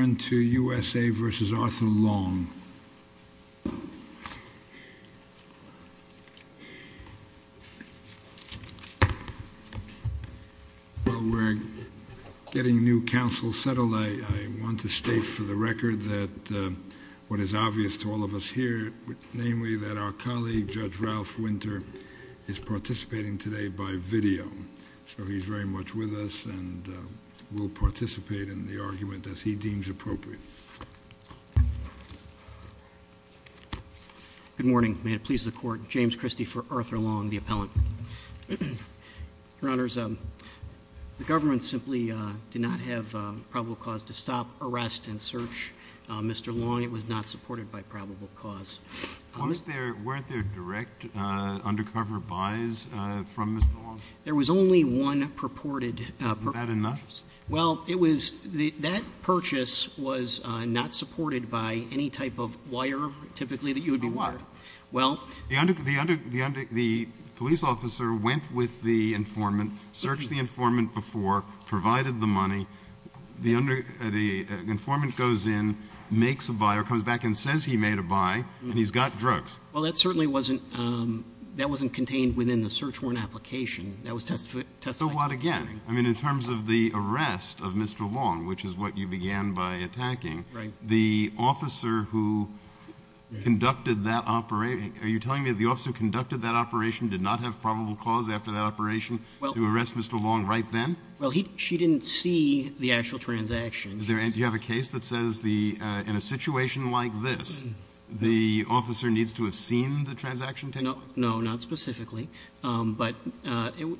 We're getting new counsel settled. I want to state for the record that what is obvious to all of us here, namely that our colleague Judge Ralph Winter is participating today by video. So he's very much with us and will participate in the argument as he deems appropriate. Mr. Long. Good morning. May it please the Court. James Christie for Arthur Long, the appellant. Your Honors, the government simply did not have probable cause to stop, arrest, and search Mr. Long. It was not supported by probable cause. Weren't there direct undercover buys from Mr. Long? There was only one purported purchase. Isn't that enough? Well, it was the – that purchase was not supported by any type of wire, typically, that you would be wired. Well, the under – the police officer went with the informant, searched the informant before, provided the money. The informant goes in, makes a buy, or comes back and says he made a buy, and he's got drugs. Well, that certainly wasn't – that wasn't contained within the search warrant application. That was testified to during the hearing. So what, again? I mean, in terms of the arrest of Mr. Long, which is what you began by attacking, the officer who conducted that – are you telling me that the officer who conducted that operation did not have probable cause after that operation to arrest Mr. Long right then? Well, he – she didn't see the actual transaction. Is there – do you have a case that says the – in a situation like this, the officer needs to have seen the transaction take place? No, not specifically. But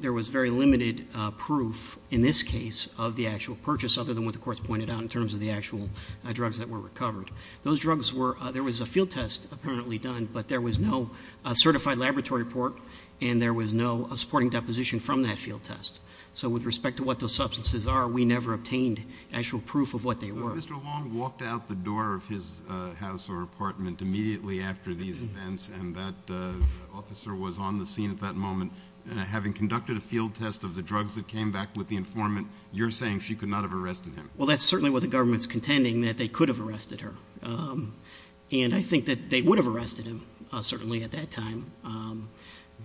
there was very limited proof in this case of the actual purchase, other than what the courts pointed out in terms of the actual drugs that were recovered. Those drugs were – there was a field test apparently done, but there was no certified laboratory report, and there was no supporting deposition from that field test. So with respect to what those substances are, we never obtained actual proof of what they were. So Mr. Long walked out the door of his house or apartment immediately after these events, and that officer was on the scene at that moment, and having conducted a field test of the drugs that came back with the informant, you're saying she could not have arrested him? Well, that's certainly what the government's contending, that they could have arrested her. And I think that they would have arrested him, certainly, at that time.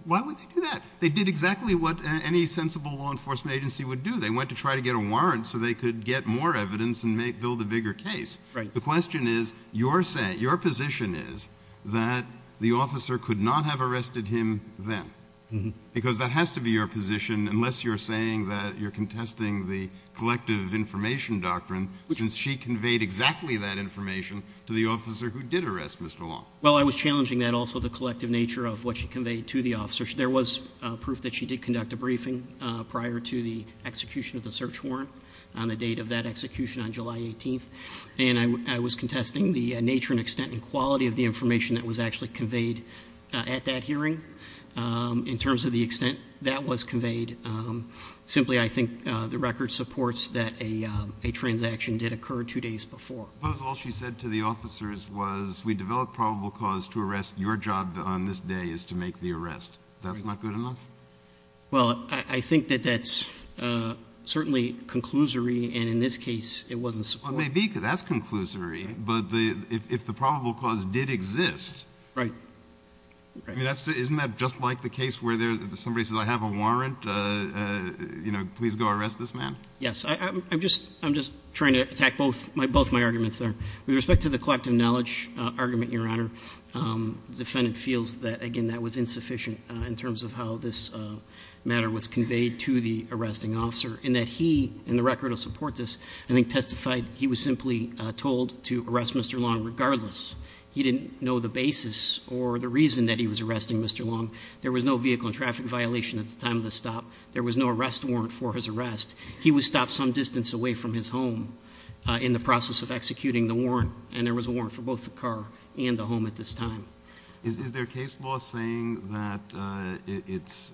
Why would they do that? They did exactly what any sensible law enforcement agency would do. They went to try to get a warrant so they could get more evidence and make – build a bigger case. The question is, your position is that the officer could not have arrested him then. Because that has to be your position, unless you're saying that you're contesting the collective information doctrine, since she conveyed exactly that information to the officer who did arrest Mr. Long. Well, I was challenging that also, the collective nature of what she conveyed to the officer. There was proof that she did conduct a briefing prior to the execution of the search warrant on the date of that execution, on July 18th. And I was contesting the nature and extent and quality of the information that was actually conveyed at that hearing. In terms of the extent that was conveyed, simply, I think the record supports that a transaction did occur two days before. Suppose all she said to the officers was, we developed probable cause to arrest your job on this day is to make the arrest. That's not good enough? Well, I think that that's certainly conclusory, and in this case, it wasn't supported. Well, it may be, because that's conclusory, but if the probable cause did exist. Right. Isn't that just like the case where somebody says, I have a warrant, you know, please go arrest this man? Yes. I'm just trying to attack both my arguments there. With respect to the collective knowledge argument, Your Honor, the defendant feels that, again, that was insufficient in terms of how this matter was conveyed to the arresting officer. And that he, in the record to support this, I think testified he was simply told to arrest Mr. Long regardless. He didn't know the basis or the reason that he was arresting Mr. Long. There was no vehicle and traffic violation at the time of the stop. There was no arrest warrant for his arrest. He was stopped some distance away from his home in the process of executing the warrant. And there was a warrant for both the car and the home at this time. So is there case law saying that it's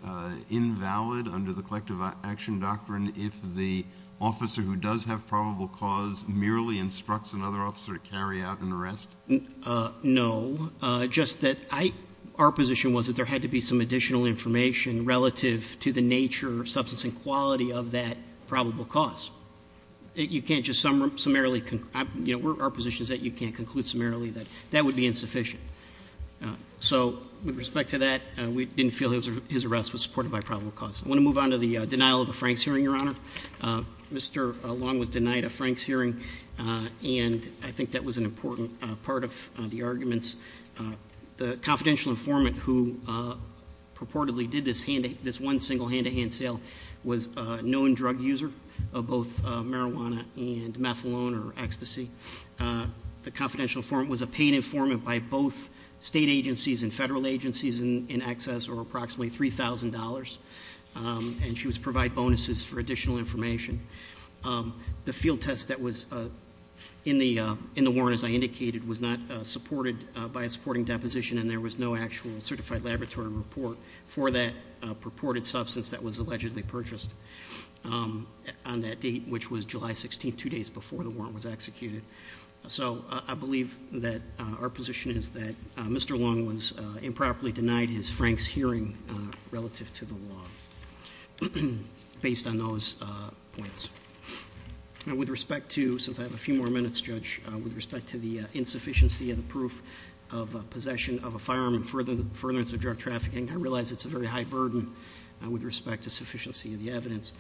invalid under the collective action doctrine if the officer who does have probable cause merely instructs another officer to carry out an arrest? No, just that our position was that there had to be some additional information relative to the nature, substance, and quality of that probable cause. You can't just summarily, you know, our position is that you can't conclude summarily that that would be insufficient. So with respect to that, we didn't feel his arrest was supported by probable cause. I want to move on to the denial of the Franks hearing, Your Honor. Mr. Long was denied a Franks hearing, and I think that was an important part of the arguments. The confidential informant who purportedly did this one single hand-to-hand sale was a known drug user of both marijuana and methalone or ecstasy. The confidential informant was a paid informant by both state agencies and federal agencies in excess of approximately $3,000, and she was provided bonuses for additional information. The field test that was in the warrant, as I indicated, was not supported by a supporting deposition, and there was no actual certified laboratory report for that purported substance that was allegedly purchased on that date, which was July 16th, two days before the warrant was executed. So I believe that our position is that Mr. Long was improperly denied his Franks hearing relative to the law. Based on those points. Now with respect to, since I have a few more minutes, Judge, with respect to the insufficiency of the proof of possession of a firearm and furtherance of drug trafficking, I realize it's a very high burden. With respect to sufficiency of the evidence.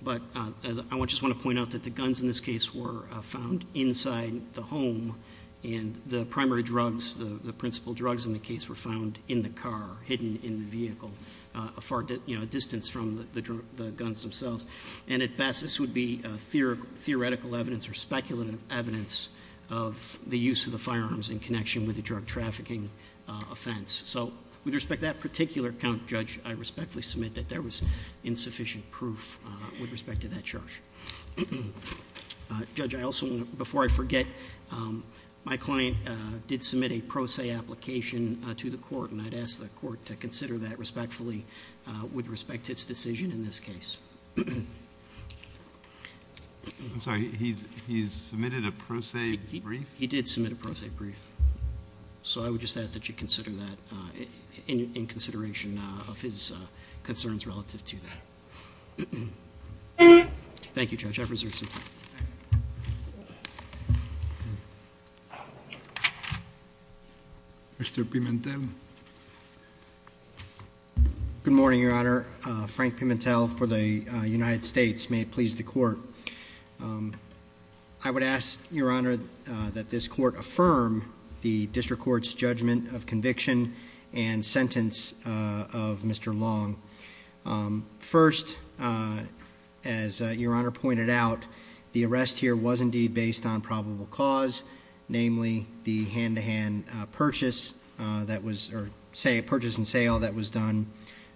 But I just want to point out that the guns in this case were found inside the home, and the primary drugs, the principal drugs in the case, were found in the car, hidden in the vehicle. A far distance from the guns themselves. And at best, this would be theoretical evidence or speculative evidence of the use of the firearms in connection with the drug trafficking offense. So, with respect to that particular count, Judge, I respectfully submit that there was insufficient proof with respect to that charge. Judge, I also want to, before I forget, my client did submit a pro se application to the court, and I'd ask the court to consider that respectfully with respect to its decision in this case. I'm sorry, he's submitted a pro se brief? He did submit a pro se brief. So, I would just ask that you consider that in consideration of his concerns relative to that. Thank you, Judge, I've reserved some time. Mr. Pimentel. Good morning, Your Honor. Frank Pimentel for the United States. May it please the court. I would ask, Your Honor, that this court affirm the district court's judgment of conviction and sentence of Mr. Long. First, as Your Honor pointed out, the arrest here was indeed based on probable cause. Namely, the hand-to-hand purchase and sale that was done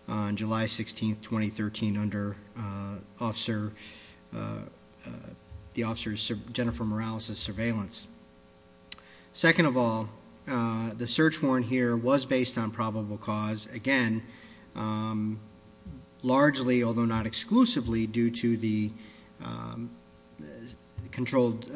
on July 16th, 2013 under the officer Jennifer Morales' surveillance. Second of all, the search warrant here was based on probable cause, again, largely, although not exclusively, due to the controlled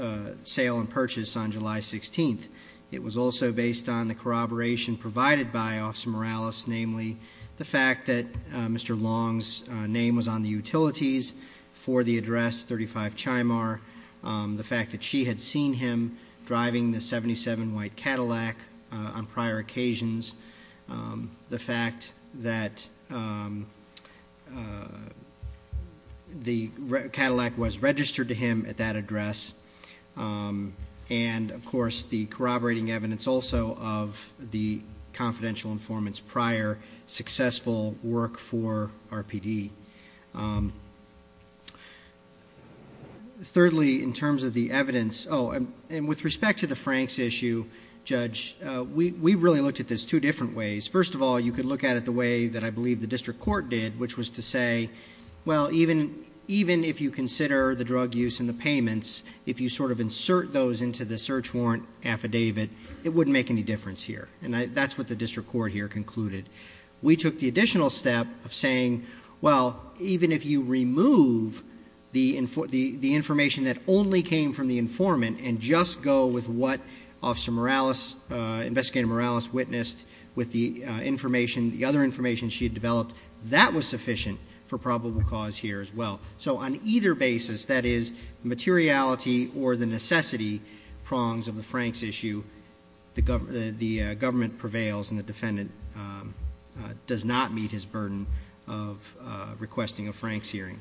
sale and purchase on July 16th. It was also based on the corroboration provided by Officer Morales, namely the fact that Mr. Long's name was on the utilities for the address 35 Chimar. The fact that she had seen him driving the 77 white Cadillac on prior occasions. The fact that the Cadillac was registered to him at that address. And of course, the corroborating evidence also of the confidential informants prior successful work for RPD. Thirdly, in terms of the evidence, and with respect to the Frank's issue, Judge, we really looked at this two different ways. First of all, you could look at it the way that I believe the district court did, which was to say, well, even if you consider the drug use and the payments, if you sort of insert those into the search warrant affidavit, it wouldn't make any difference here. And that's what the district court here concluded. We took the additional step of saying, well, even if you remove the information that only came from the informant and just go with what Officer Morales, Investigator Morales witnessed with the information, the other information she had developed. That was sufficient for probable cause here as well. So on either basis, that is materiality or the necessity prongs of the Frank's issue. The government prevails and the defendant does not meet his burden of requesting a Frank's hearing.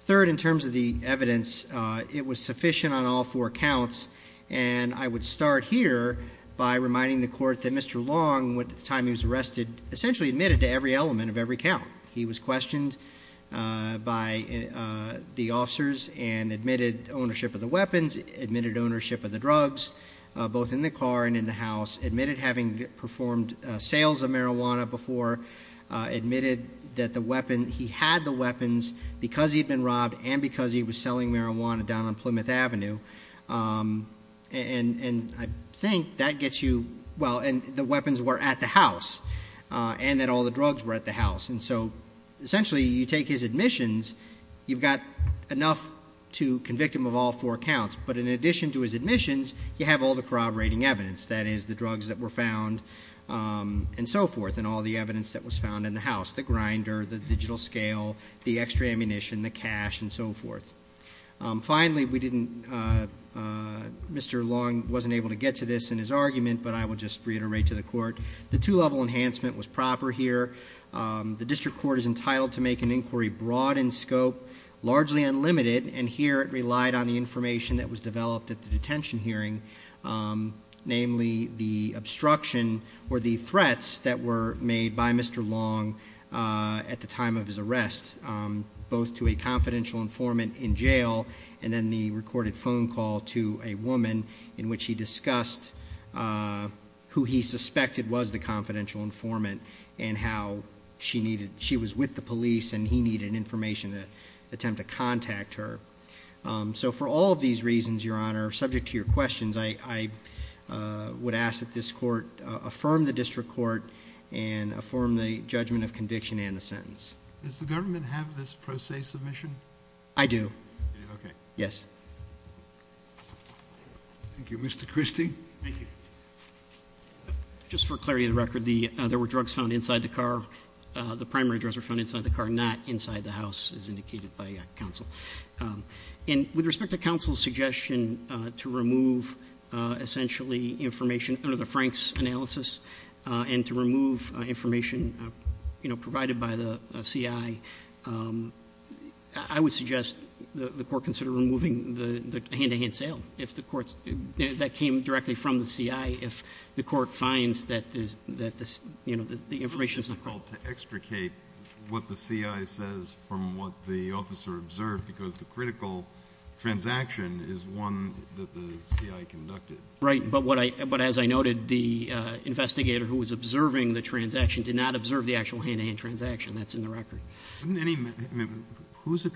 Third, in terms of the evidence, it was sufficient on all four counts. And I would start here by reminding the court that Mr. Long, at the time he was arrested, essentially admitted to every element of every count. He was questioned by the officers and admitted ownership of the weapons, admitted ownership of the drugs, both in the car and in the house, admitted having performed sales of marijuana before. Admitted that he had the weapons because he'd been robbed and because he was selling marijuana down on Plymouth Avenue. And I think that gets you, well, and the weapons were at the house, and that all the drugs were at the house. And so, essentially, you take his admissions, you've got enough to convict him of all four counts. But in addition to his admissions, you have all the corroborating evidence. That is, the drugs that were found, and so forth, and all the evidence that was found in the house. The grinder, the digital scale, the extra ammunition, the cash, and so forth. Finally, Mr. Long wasn't able to get to this in his argument, but I will just reiterate to the court. The two-level enhancement was proper here. The district court is entitled to make an inquiry broad in scope, largely unlimited, and here it relied on the information that was developed at the detention hearing. Namely, the obstruction or the threats that were made by Mr. Long at the time of his arrest, both to a confidential informant in jail, and then the recorded phone call to a woman in which he discussed who he suspected was the confidential informant, and how she was with the police, and he needed information to attempt to contact her. So for all of these reasons, Your Honor, subject to your questions, I would ask that this court affirm the district court and affirm the judgment of conviction and the sentence. Does the government have this pro se submission? I do. Okay. Yes. Thank you. Mr. Christie? Thank you. Just for clarity of the record, there were drugs found inside the car. The primary drugs were found inside the car, not inside the house, as indicated by counsel. And with respect to counsel's suggestion to remove, essentially, the information under the Frank's analysis, and to remove information provided by the CI, I would suggest the court consider removing the hand-to-hand sale. If the court's, that came directly from the CI. If the court finds that the information's not- It's difficult to extricate what the CI says from what the officer observed, because the critical transaction is one that the CI conducted. Right, but as I noted, the investigator who was observing the transaction did not observe the actual hand-to-hand transaction. That's in the record. Who's a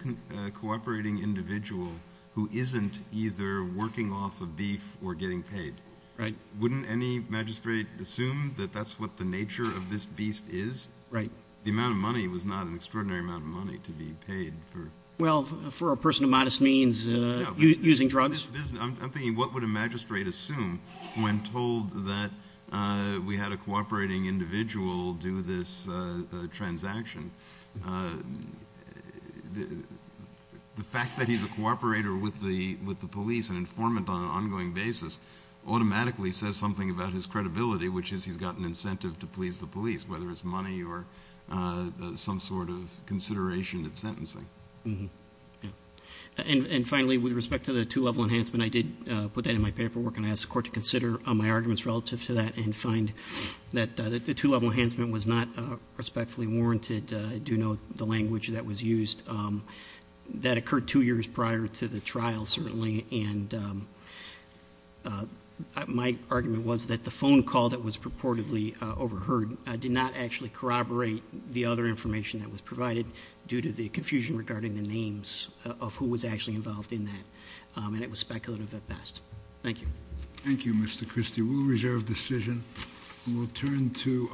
cooperating individual who isn't either working off of beef or getting paid? Right. Wouldn't any magistrate assume that that's what the nature of this beast is? Right. The amount of money was not an extraordinary amount of money to be paid for. Well, for a person of modest means, using drugs. I'm thinking, what would a magistrate assume when told that we had a cooperating individual do this transaction? The fact that he's a cooperator with the police and informant on an ongoing basis automatically says something about his credibility, which is he's got an incentive to please the police, whether it's money or some sort of consideration in sentencing. Mm-hm, yeah. And finally, with respect to the two-level enhancement, I did put that in my paperwork and I asked the court to consider my arguments relative to that and find that the two-level enhancement was not respectfully warranted. I do know the language that was used. That occurred two years prior to the trial, certainly, and my argument was that the phone call that was purportedly overheard did not actually corroborate the other information that was provided due to the confusion regarding the names of who was actually involved in that. And it was speculative at best. Thank you. Thank you, Mr. Christie. We'll reserve decision and we'll turn to